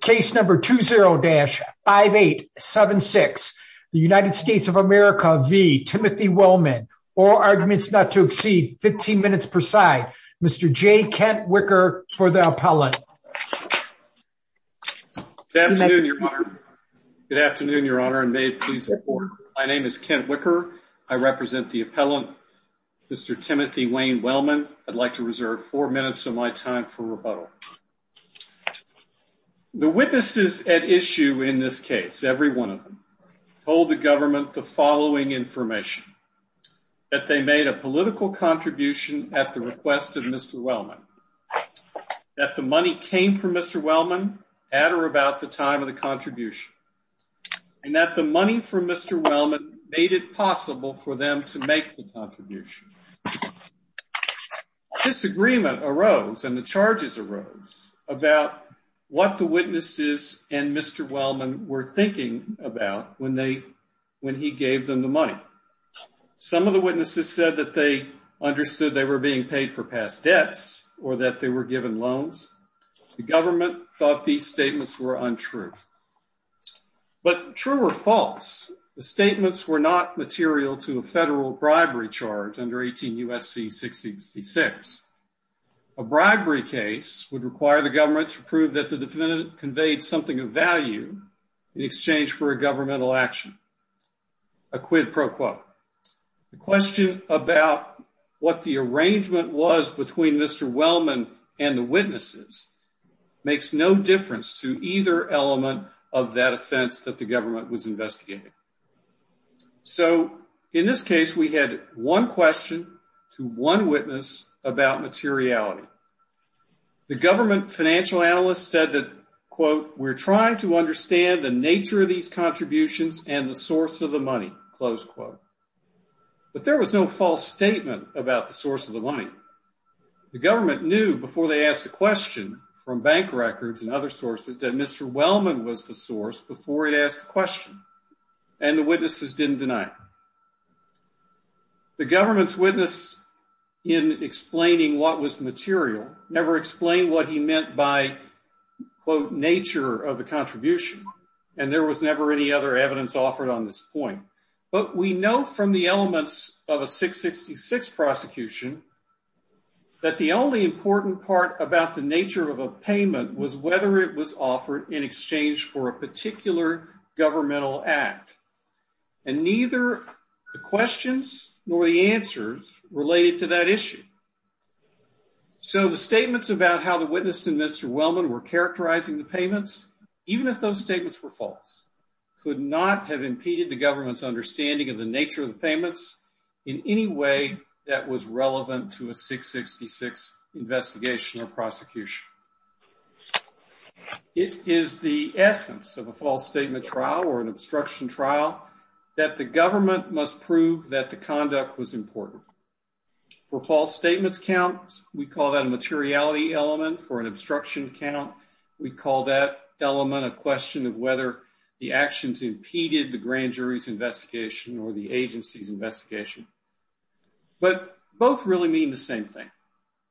case number 20-5876 the United States of America v. Timothy Wellman all arguments not to exceed 15 minutes per side Mr. J. Kent Wicker for the appellant. Good afternoon your honor good afternoon your honor and may it please the court my name is Kent Wicker I represent the appellant Mr. Timothy Wayne Wellman I'd like to reserve four minutes of my time for rebuttal the witnesses at issue in this case every one of them told the government the following information that they made a political contribution at the request of Mr. Wellman that the money came from Mr. Wellman at or about the time of the contribution and that the money from Mr. Wellman made it possible for them to make the contribution the disagreement arose and the charges arose about what the witnesses and Mr. Wellman were thinking about when they when he gave them the money some of the witnesses said that they understood they were being paid for past debts or that they were given loans the government thought these statements were untrue but true or false the statements were not material to a federal bribery charge under 18 U.S.C. 666 a bribery case would require the government to prove that the defendant conveyed something of value in exchange for a governmental action a quid pro quo the question about what the arrangement was between Mr. Wellman and the witnesses makes no difference to either element of that offense that the government was investigating so in this case we had one question to one witness about materiality the government financial analysts said that quote we're trying to understand the nature of these contributions and the source of the money close quote but there was no false statement about the source of the money the government knew before they asked a question from bank records and other sources that Mr. Wellman was the source before it asked the question and the witnesses didn't deny it the government's witness in explaining what was material never explained what he meant by quote nature of the contribution and there was never any other evidence offered on this point but we know from the elements of a 666 prosecution that the only important part about the nature of a payment was whether it was offered in exchange for a particular governmental act and neither the questions nor the answers related to that issue so the statements about how the witness and Mr. Wellman were characterizing the payments even if those statements were false could not have impeded the government's understanding of the nature of the payments in any way that was relevant to a 666 investigation or prosecution it is the essence of a false statement trial or an obstruction trial that the government must prove that the conduct was important for false statements count we call that a materiality element for an obstruction count we call that element a question of whether the actions impeded the grand jury's investigation or the agency's investigation but both really mean the same thing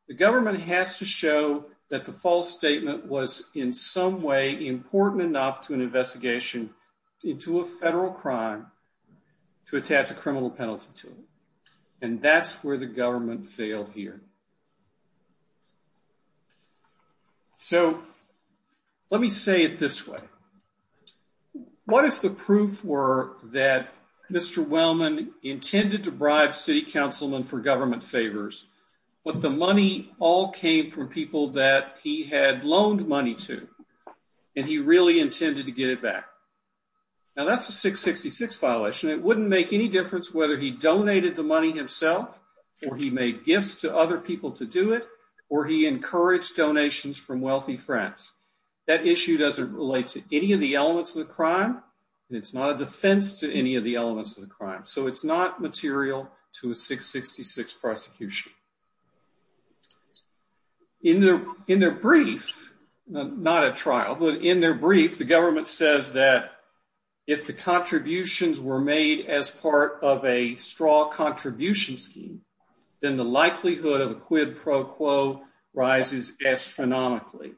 the government has to show that the false statement was in some way important enough to an investigation into a federal crime to attach a criminal penalty to it and that's where the government failed here so let me say it this way what if the proof were that Mr. Wellman intended to bribe city councilmen for government favors but the money all came from people that he had loaned money to and he really intended to get it back now that's a 666 violation it wouldn't make any difference whether he donated the money himself or he made gifts to other people to do it or he encouraged donations from wealthy friends that issue doesn't relate to any of the elements of the crime and it's not a defense to any of the elements of the crime so it's not material to a 666 prosecution in their in their brief not a trial but in their brief the government says that if the contributions were made as part of a straw contribution scheme then the likelihood of a quid pro quo rises astronomically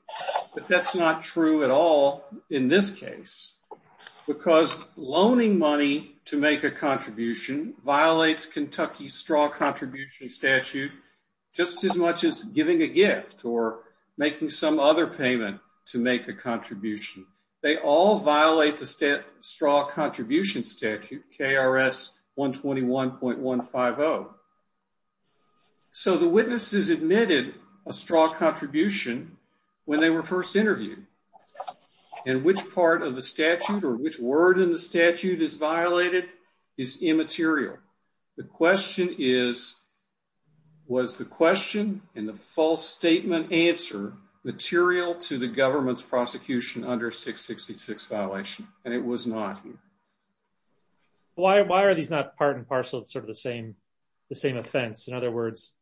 but that's not true at all in this case because loaning money to make a contribution violates Kentucky's straw contribution statute just as much as giving a gift or making some other payment to make a contribution they all violate the straw contribution statute krs 121.150 so the witnesses admitted a straw contribution when they were first interviewed and which part of the statute or which word in the statute is violated is immaterial the question is was the question and the false statement answer material to the government's prosecution under 666 violation and it was not why why are these not part and parcel it's sort of the same the same offense in other words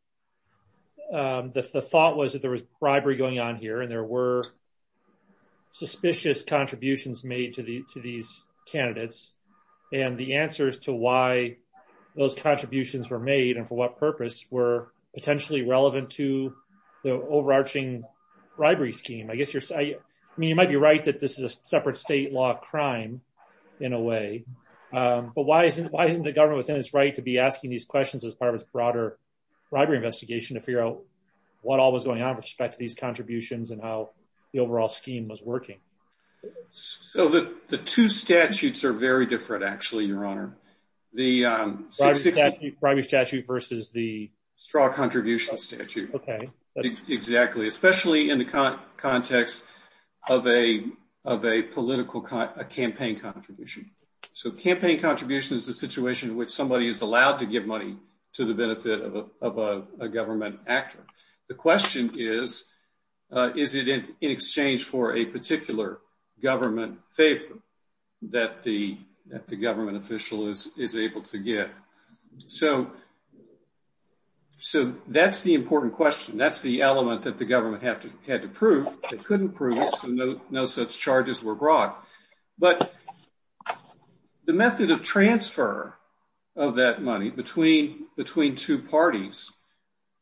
the thought was that there was bribery going on here and there were suspicious contributions made to the to these candidates and the answers to why those contributions were made and for what purpose were potentially relevant to the overarching bribery scheme I guess you're I mean you might be right that this is a separate state law of crime in a way but why isn't why isn't the government within its right to be asking these questions as part of its broader robbery investigation to figure out what all was going on with respect to these contributions and how the overall scheme was working so that the two statutes are very different actually your honor the um private statute versus the straw contribution statute okay exactly especially in the context of a of a political campaign contribution so campaign contribution is a situation in which somebody is allowed to give money to the benefit of a government actor the question is is it in exchange for a particular government favor that the that the government official is is able to get so so that's the important question that's the element that the government have to had to prove they couldn't prove it so no no such charges were brought but the method of transfer of that money between between two parties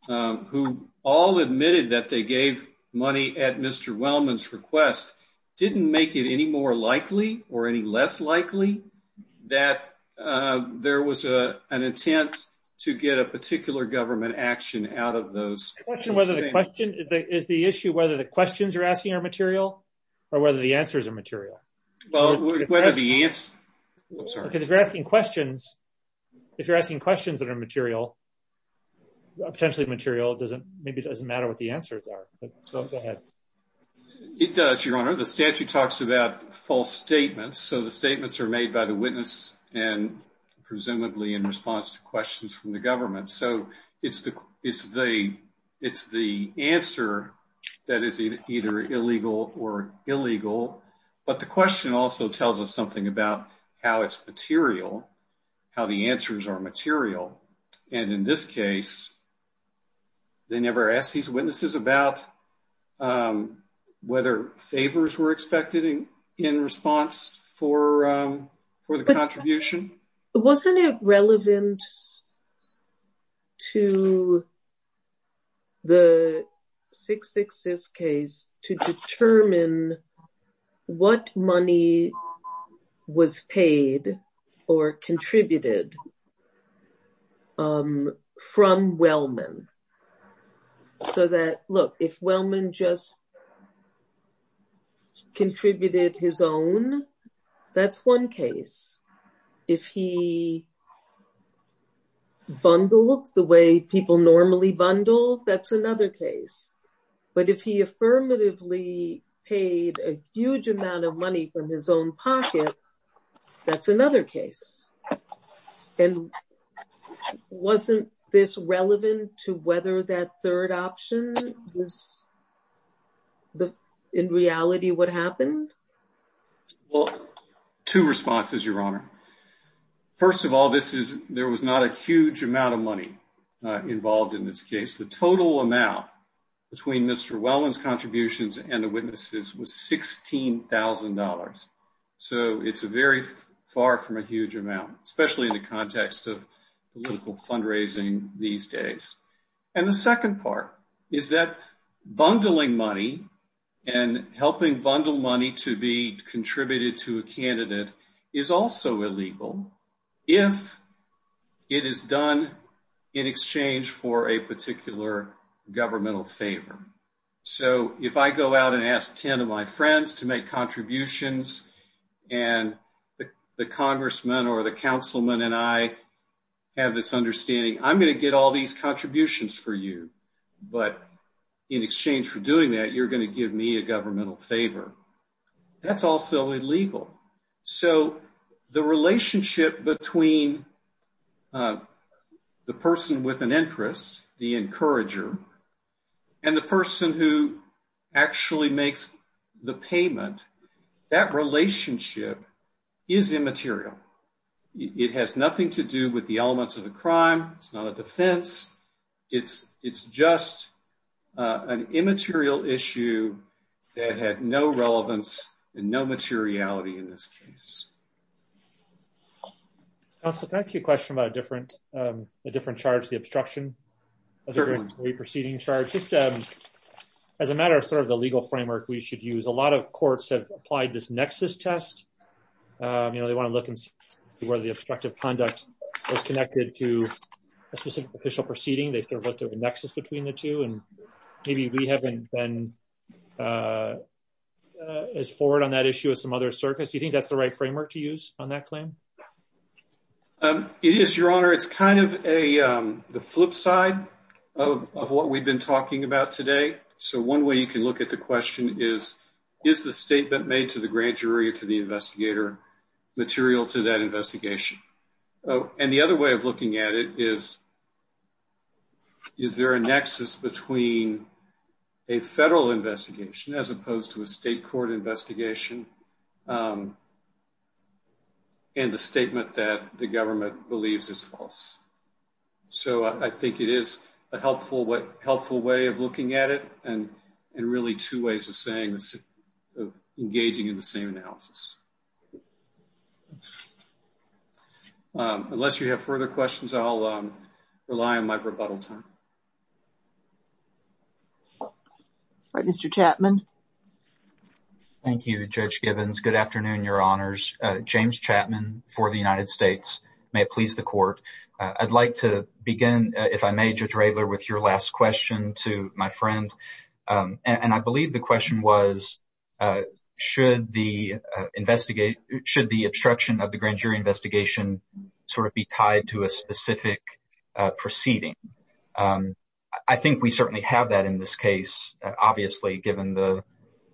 who all admitted that they gave money at Mr. Wellman's request didn't make it any more likely or any less likely that there was a an intent to get a particular government action out of those whether the question is the issue whether the questions are asking are material or whether the answers are material well whether the answer sorry because if you're asking questions if you're asking questions that are material potentially material doesn't maybe it doesn't matter what the answers are but go ahead it does your honor the statute talks about false statements so the statements are made by the witness and presumably in response to questions from the government so it's the it's the it's the answer that is either illegal or illegal but the question also tells us something about how it's material how the answers are they never asked these witnesses about whether favors were expected in response for for the contribution wasn't it relevant to the 666 case to determine what money was paid or contributed from Wellman so that look if Wellman just contributed his own that's one case if he bundled the way people normally bundle that's another case but if he affirmatively paid a huge amount of money from his own pocket that's another case and wasn't this relevant to whether that third option was the in reality what happened well two responses your honor first of all this is there was not a huge amount of money involved in this case the total amount between Mr. Wellman's contributions and the witnesses was $16,000 so it's a very far from a huge amount especially in the context of political fundraising these days and the second part is that bundling money and helping bundle money to be contributed to a candidate is also illegal if it is done in exchange for a particular governmental favor so if I go out and ask 10 of my friends to make contributions and the congressman or the councilman and I have this understanding I'm going to get all these contributions for you but in exchange for doing that you're going to give me a governmental favor that's also illegal so the relationship between the person with an interest the encourager and the person who actually makes the payment that relationship is immaterial it has nothing to do with the elements of the crime it's not a defense it's it's just an immaterial issue that had no relevance and no materiality in this case also thank you question about a different um a different charge the obstruction of the proceeding charge just um as a matter of sort of the legal framework we should use a lot of courts have applied this nexus test um you know they want to look and see whether the obstructive conduct was connected to a specific official proceeding they sort of looked at the nexus between the two and maybe we haven't been uh as forward on that issue as some other circus do you think that's the right framework to use on that claim um it is your honor it's kind of a um the flip side of of what we've been talking about today so one way you can look at the question is is the statement made to the grand jury or to the investigator material to that investigation oh and the other way of looking at it is is there a nexus between a federal investigation as opposed to a state court investigation and the statement that the government believes is false so i think it is a helpful what helpful way of looking at it and and really two ways of saying this of engaging in the same analysis okay unless you have further questions i'll rely on my rebuttal time all right mr chapman thank you judge gibbons good afternoon your honors uh james chapman for the united states may it please the court i'd like to begin if i may judge raylor with your last question to my friend um and i believe the question was uh should the investigate should the obstruction of the grand jury investigation sort of be tied to a specific uh proceeding i think we certainly have that in this case obviously given the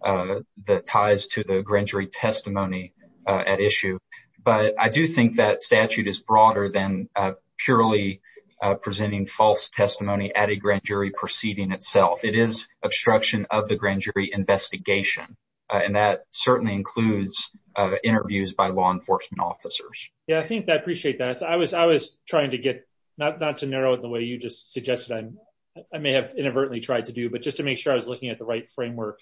uh the ties to the grand jury testimony uh at issue but i do think that statute is broader than uh purely uh presenting false testimony at a grand jury proceeding itself it is obstruction of the grand jury investigation and that certainly includes uh interviews by law enforcement officers yeah i think i appreciate that i was i was trying to get not not to narrow it the way you just suggested i'm i may have inadvertently tried to do but just to make sure i was looking at the right framework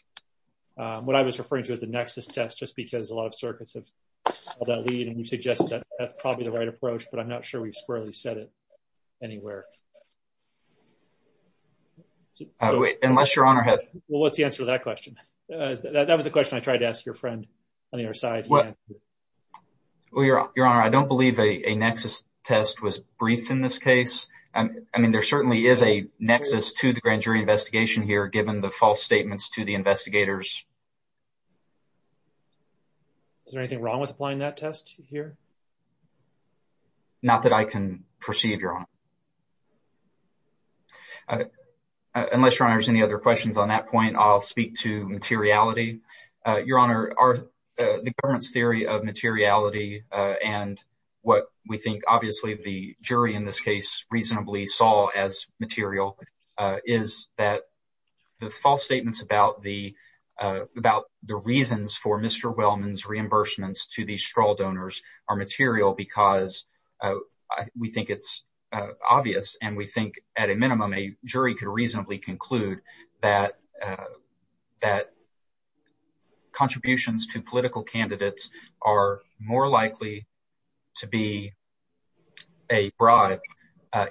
what i was referring to as the nexus test just because a lot of circuits have all that lead and you suggested that that's probably the right approach but i'm not sure we've squarely said it anywhere unless your honor had well what's the answer to that question uh that was the question i tried to ask your friend on the other side well your your honor i don't believe a nexus test was briefed in this case i mean there certainly is a nexus to the grand jury investigation here given the false statements to the investigators is there anything wrong with applying that test here not that i can perceive your honor uh unless your honor has any other questions on that point i'll speak to materiality uh your honor are the government's theory of materiality uh and what we think obviously the jury in this case reasonably saw as material uh is that the false statements about the uh about the reasons for mr wellman's reimbursements to these straw donors are material because uh we think it's uh obvious and we think at a minimum a jury could reasonably conclude that uh that contributions to political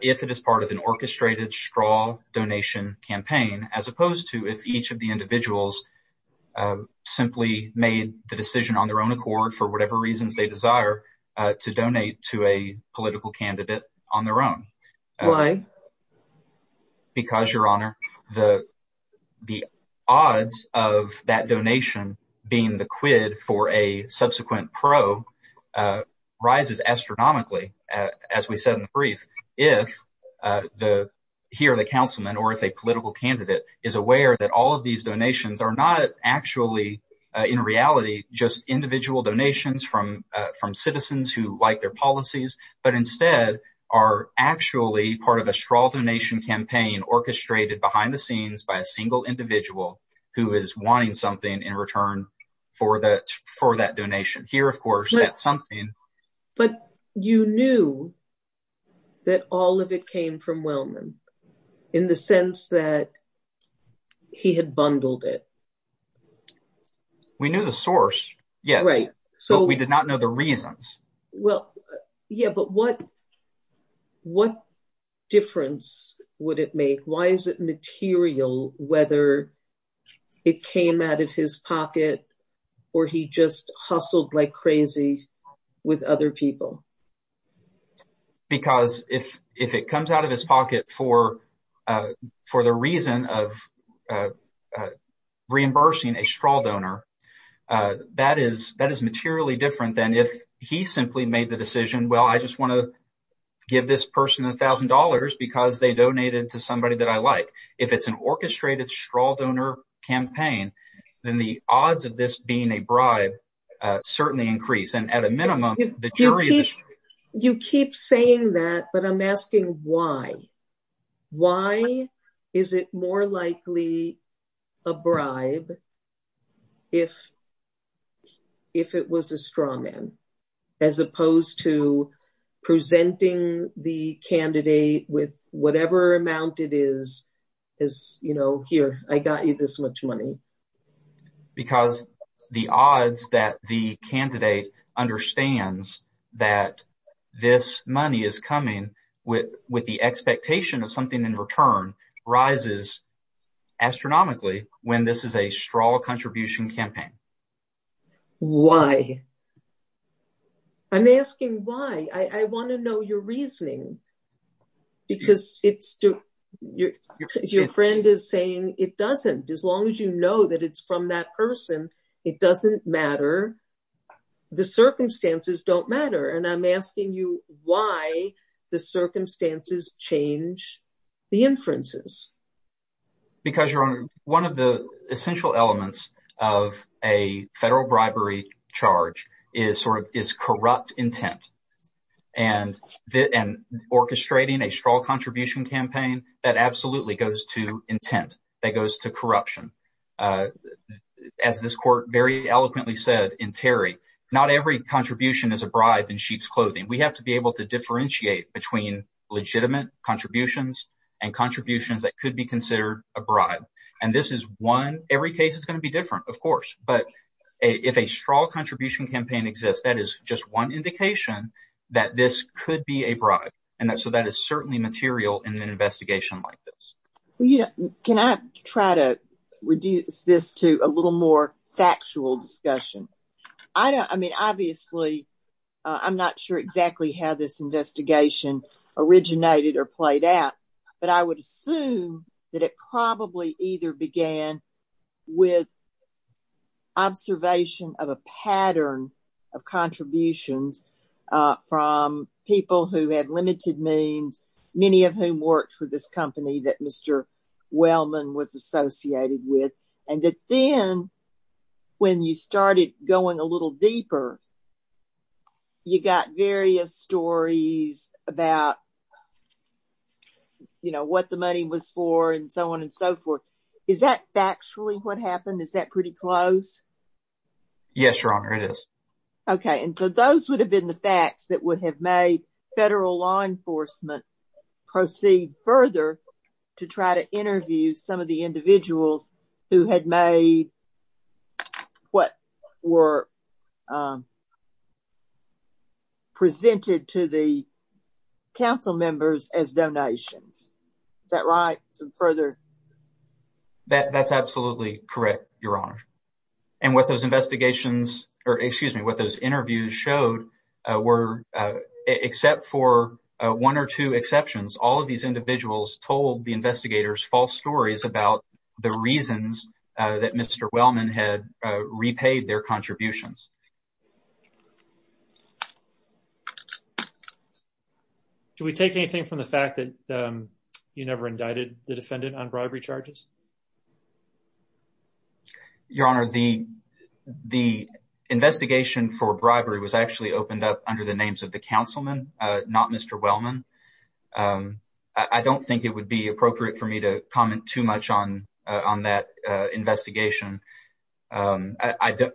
if it is part of an orchestrated straw donation campaign as opposed to if each of the individuals simply made the decision on their own accord for whatever reasons they desire to donate to a political candidate on their own why because your honor the the odds of that donation being the quid for a subsequent pro rises astronomically as we said in the brief if uh the here the councilman or if a political candidate is aware that all of these donations are not actually in reality just individual donations from uh from citizens who like their policies but instead are actually part of a straw donation campaign orchestrated behind the scenes by a single individual who is wanting something in return for that for that donation here of course that's something but you knew that all of it came from wellman in the sense that he had bundled it we knew the source yes right so we did not know the reasons well yeah but what what difference would it make why is it material whether it came out of his pocket or he just hustled like crazy with other people because if if it comes out of his pocket for uh for the reason of uh uh reimbursing a straw donor uh that is that is materially different than if he simply made the decision well i just want to give this person a thousand dollars because they donated to somebody that i like if it's an orchestrated straw donor campaign then the odds of this being a bribe uh certainly increase and at a minimum the jury you keep saying that but i'm asking why why is it more likely a bribe if if it was a strawman as opposed to presenting the candidate with whatever amount it is as you know here i got you this much money because the odds that the candidate understands that this money is coming with with the expectation of something in return rises astronomically when this is a straw contribution campaign why i'm asking why i want to know your reasoning because it's your your friend is saying it doesn't as long as you know that it's from that person it doesn't matter the circumstances don't matter and i'm asking you why the circumstances change the inferences because your honor one of the essential elements of a federal bribery charge is sort of is corrupt intent and the and orchestrating a straw contribution campaign that absolutely goes to intent that goes to corruption uh as this court very eloquently said in terry not every contribution is a bribe in sheep's clothing we have to be able to differentiate between legitimate contributions and contributions that could be considered a bribe and this is one every case is going to be different of course but if a straw contribution campaign exists that is just one indication that this could be a bribe and that so that is certainly material in an investigation like this you know can i try to reduce this to a little more factual discussion i don't i mean obviously i'm not sure exactly how this investigation originated or played out but i would assume that it probably either began with observation of a pattern of contributions uh from people who had limited means many of whom worked for this company that mr wellman was associated with and that then when you started going a little deeper you got various stories about you know what the money was for and so on and so forth is that factually what happened is that pretty close yes your honor it is okay and so those would have been the facts that would have made federal law enforcement proceed further to try to interview some of the individuals who had made contributions to what were presented to the council members as donations is that right further that that's absolutely correct your honor and what those investigations or excuse me what those interviews showed were except for one or two exceptions all of these individuals told the investigators false stories about the reasons that mr wellman had repaid their contributions do we take anything from the fact that you never indicted the defendant on bribery charges your honor the the investigation for bribery was actually opened up under the names of the uh on that uh investigation um i don't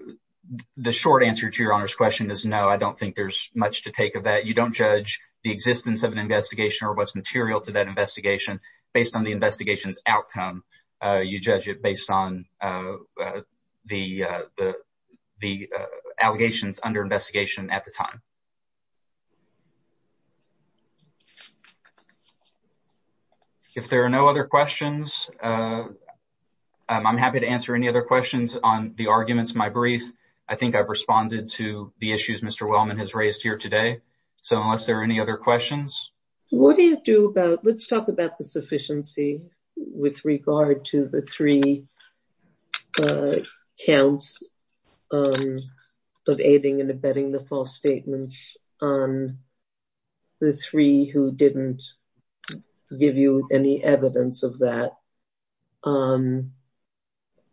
the short answer to your honor's question is no i don't think there's much to take of that you don't judge the existence of an investigation or what's material to that investigation based on the investigation's outcome uh you judge it based on the uh the the uh allegations under investigation at the time thank you if there are no other questions uh i'm happy to answer any other questions on the arguments my brief i think i've responded to the issues mr wellman has raised here today so unless there are any other questions what do you do about let's talk about the sufficiency with regard to the three counts of aiding and abetting the false statements on the three who didn't give you any evidence of that um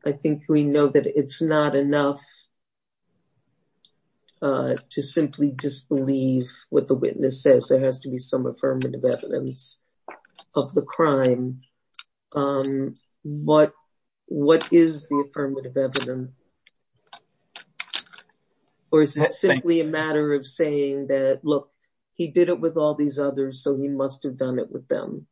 i think we know that it's not enough to simply disbelieve what the witness says there has to be some affirmative evidence of the crime um what what is the affirmative evidence or is it simply a matter of saying that look he did it with all these others so he must have done it with them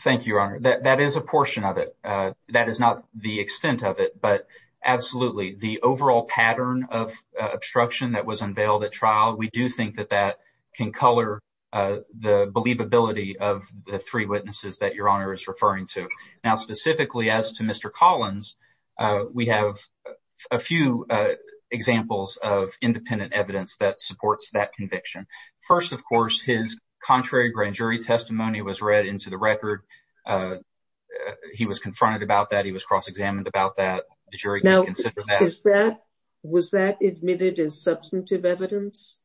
thank you your honor that that is a portion of it uh that is not the extent of it but absolutely the overall pattern of obstruction that was unveiled at trial we do think that that can color uh the believability of the three witnesses that your honor is referring to now specifically as to mr collins uh we have a few uh examples of independent evidence that supports that conviction first of course his contrary grand jury testimony was read into the record uh he was confronted about that he was cross-examined about that the jury now is that was that admitted as substantive evidence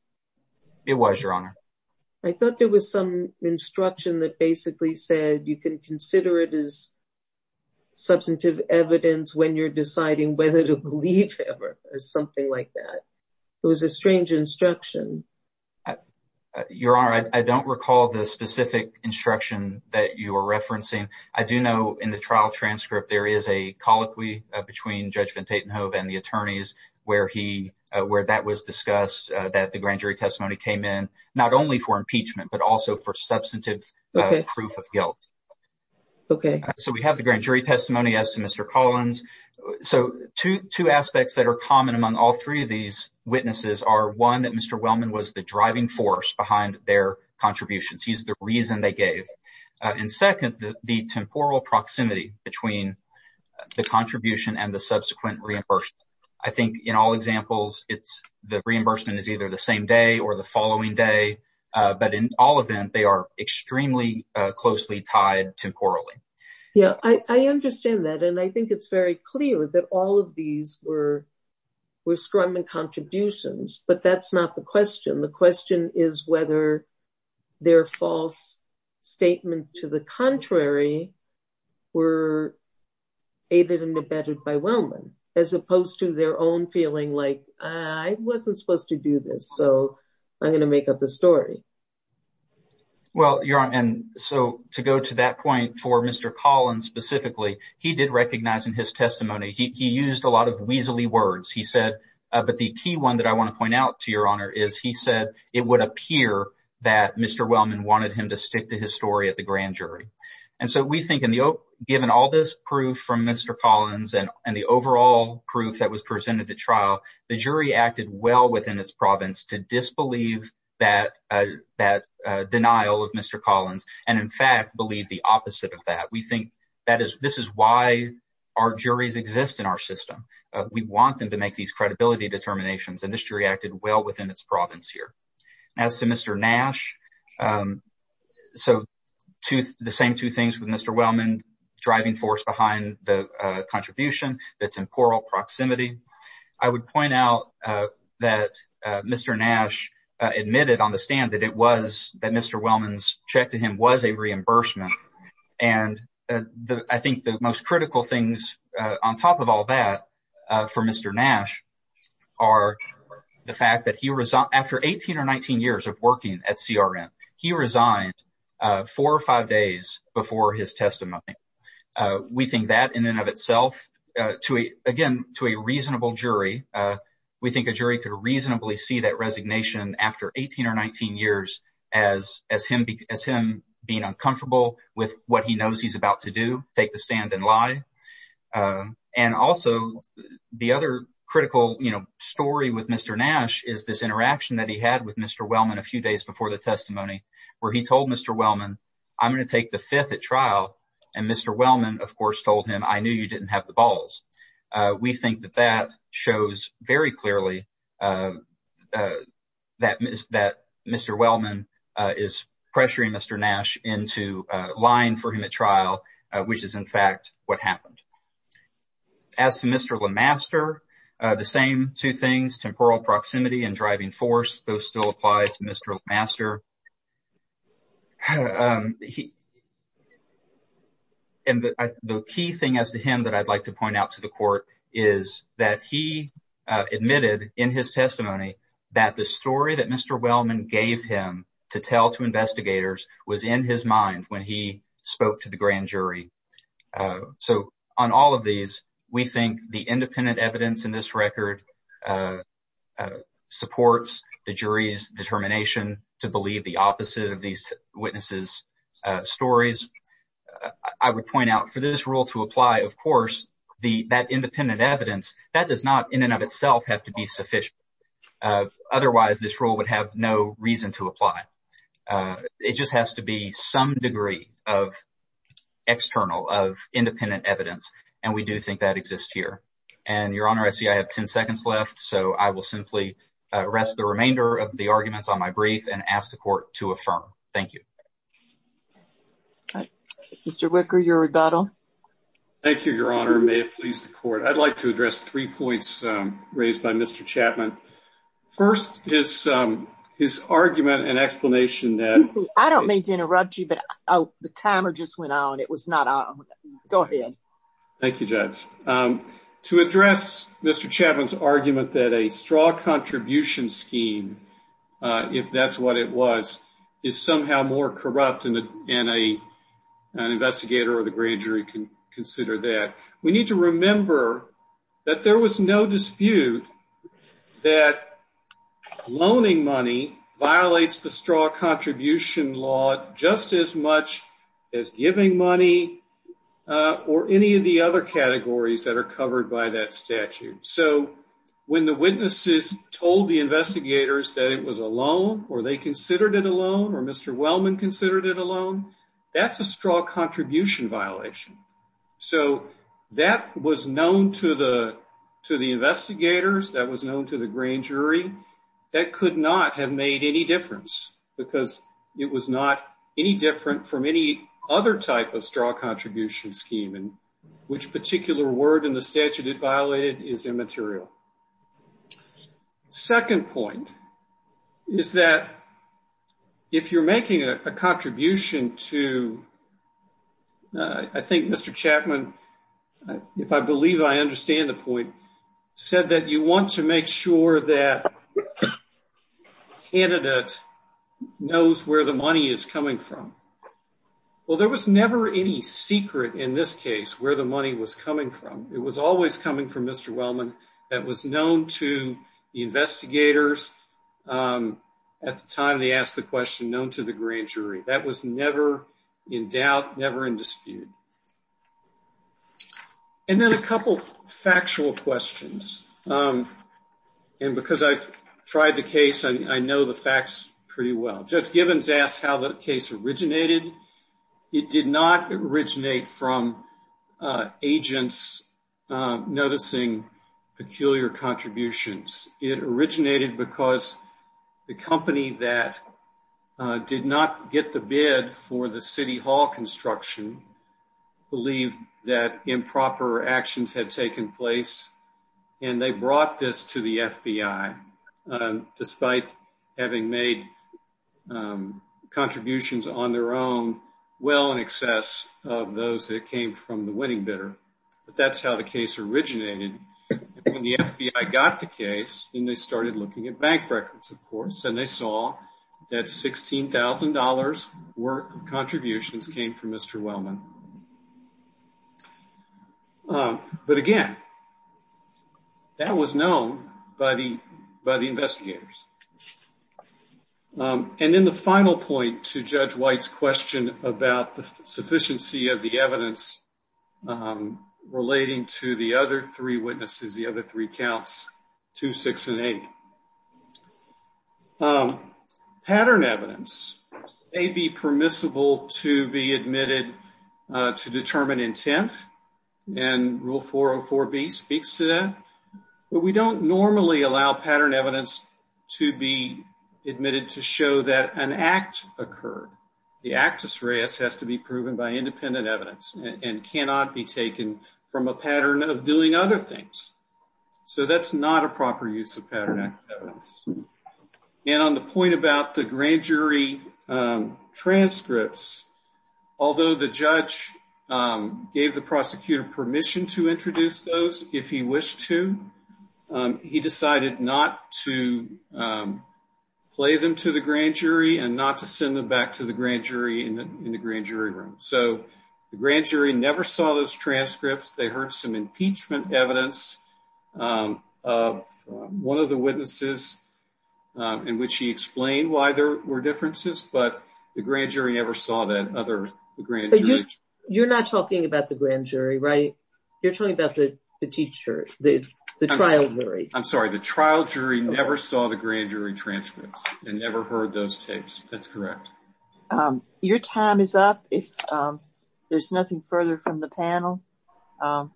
it was your honor i thought there was some instruction that basically said you can consider it as substantive evidence when you're deciding whether to believe ever or something like that it was a strange instruction your honor i don't recall the specific instruction that you are referencing i do know in the trial transcript there is a colloquy between judge van tatenhove and the attorneys where he where that was discussed that the grand jury testimony came in not only for impeachment but also for substantive proof of guilt okay so we have the grand jury testimony as to mr collins so two aspects that are common among all three of these witnesses are one that mr wellman was the driving force behind their contributions he's the reason they gave and second the temporal proximity between the contribution and the subsequent reimbursement i think in all examples it's the reimbursement is either the same day or the following day uh but in all of them they are extremely uh closely tied temporally yeah i i understand that and i think it's very clear that all of these were were strumming contributions but that's not the question the question is whether their false statement to the contrary were aided and abetted by wellman as opposed to their own feeling like i wasn't supposed to do this so i'm going to make up the story well your honor and so to go to that point for mr collins specifically he did recognize in his testimony he used a lot of weasely words he said uh but the key one that i want to point out to your honor is he said it would appear that mr wellman wanted him to stick to his story at the grand jury and so we think in the given all this proof from mr collins and and the overall proof that was presented at trial the jury acted well within its province to disbelieve that uh that uh denial of mr collins and in fact believe the opposite of that we think that is this is why our juries exist in our system we want them to make these credibility determinations and this jury acted well within its province here as to mr nash um so to the same two things with mr wellman driving force behind the uh contribution the temporal proximity i would point out uh that uh mr nash uh admitted on the stand that it was that mr wellman's check to him was a reimbursement and the i think the most critical things uh on top of all that uh for mr nash are the fact that he resigned after 18 or 19 years of working at crm he resigned uh four or five days before his testimony we think that in and of itself uh to a again to a reasonable jury uh we think a jury could reasonably see that resignation after 18 or 19 years as as him as him being uncomfortable with what he knows he's about to do take the stand and lie uh and also the other critical you know story with mr nash is this interaction that he had with mr wellman a few days before the testimony where he told mr wellman i'm going to take the fifth at trial and mr wellman of course told him i knew you didn't have the balls uh we think that that shows very clearly uh uh that is that mr wellman uh is pressuring mr nash into uh lying for him at trial which is in fact what happened as to mr lemaster uh the same two things temporal proximity and driving force those still apply to mr master um he and the key thing as to him that i'd like to point out to the court is that he admitted in his testimony that the story that mr wellman gave him to tell to investigators was in his mind when he spoke to the grand jury so on all of these we think the independent evidence in this record uh supports the jury's determination to believe the opposite of these witnesses uh stories i would point out for this rule to apply of course the that independent evidence that does not in and of itself have to be sufficient otherwise this rule would have no reason to apply it just has to be some degree of external of independent evidence and we do think that exists here and your honor i see i have 10 seconds left so i will simply arrest the remainder of the arguments on my brief and ask the court to affirm thank you all right mr wicker your rebuttal thank you your honor may it please the court i'd like to address three points um raised by mr chapman first is um his argument and explanation that i don't mean to interrupt you but oh the timer just went on it was not on go ahead thank you judge um to address mr chapman's argument that a straw contribution scheme uh if that's what it was is somehow more and a an investigator or the grand jury can consider that we need to remember that there was no dispute that loaning money violates the straw contribution law just as much as giving money or any of the other categories that are covered by that statute so when the witnesses told the alone that's a straw contribution violation so that was known to the to the investigators that was known to the grand jury that could not have made any difference because it was not any different from any other type of straw contribution scheme and which particular word in the statute it to uh i think mr chapman if i believe i understand the point said that you want to make sure that candidate knows where the money is coming from well there was never any secret in this case where the money was coming from it was always coming from mr wellman that was known to the never in doubt never in dispute and then a couple factual questions um and because i've tried the case i know the facts pretty well judge gibbons asked how the case originated it did not originate from uh agents noticing peculiar contributions it originated because the company that did not get the bid for the city hall construction believed that improper actions had taken place and they brought this to the fbi despite having made contributions on their own well in excess of those that came from the winning bidder but that's how the case originated when the fbi got the case and they started looking at bank records of course and they saw that sixteen thousand dollars worth of contributions came from mr wellman but again that was known by the by the investigators and then the final point to judge white's question about the sufficiency of the evidence um relating to the other three witnesses the other three counts 26 and 80 pattern evidence may be permissible to be admitted to determine intent and rule 404 b speaks to that but we don't normally allow pattern evidence to be admitted to show that an act occurred the actus reis has to be proven by independent evidence and cannot be taken from a pattern of doing other things so that's not a proper use of pattern evidence and on the point about the grand jury transcripts although the judge gave the prosecutor permission to introduce those if he wished to he decided not to play them to the grand jury and not to send them back to the grand jury in the grand jury room so the grand jury never saw those transcripts they heard some impeachment evidence of one of the witnesses in which he explained why there were differences but the grand jury never saw that other the grand jury you're not talking about the grand jury right you're talking about the teacher the the trial jury i'm sorry the trial jury never saw the grand jury transcripts and never heard those tapes that's correct um your time is up if um there's nothing further from the panel um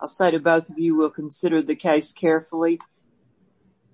i'll say to both of you will consider the case carefully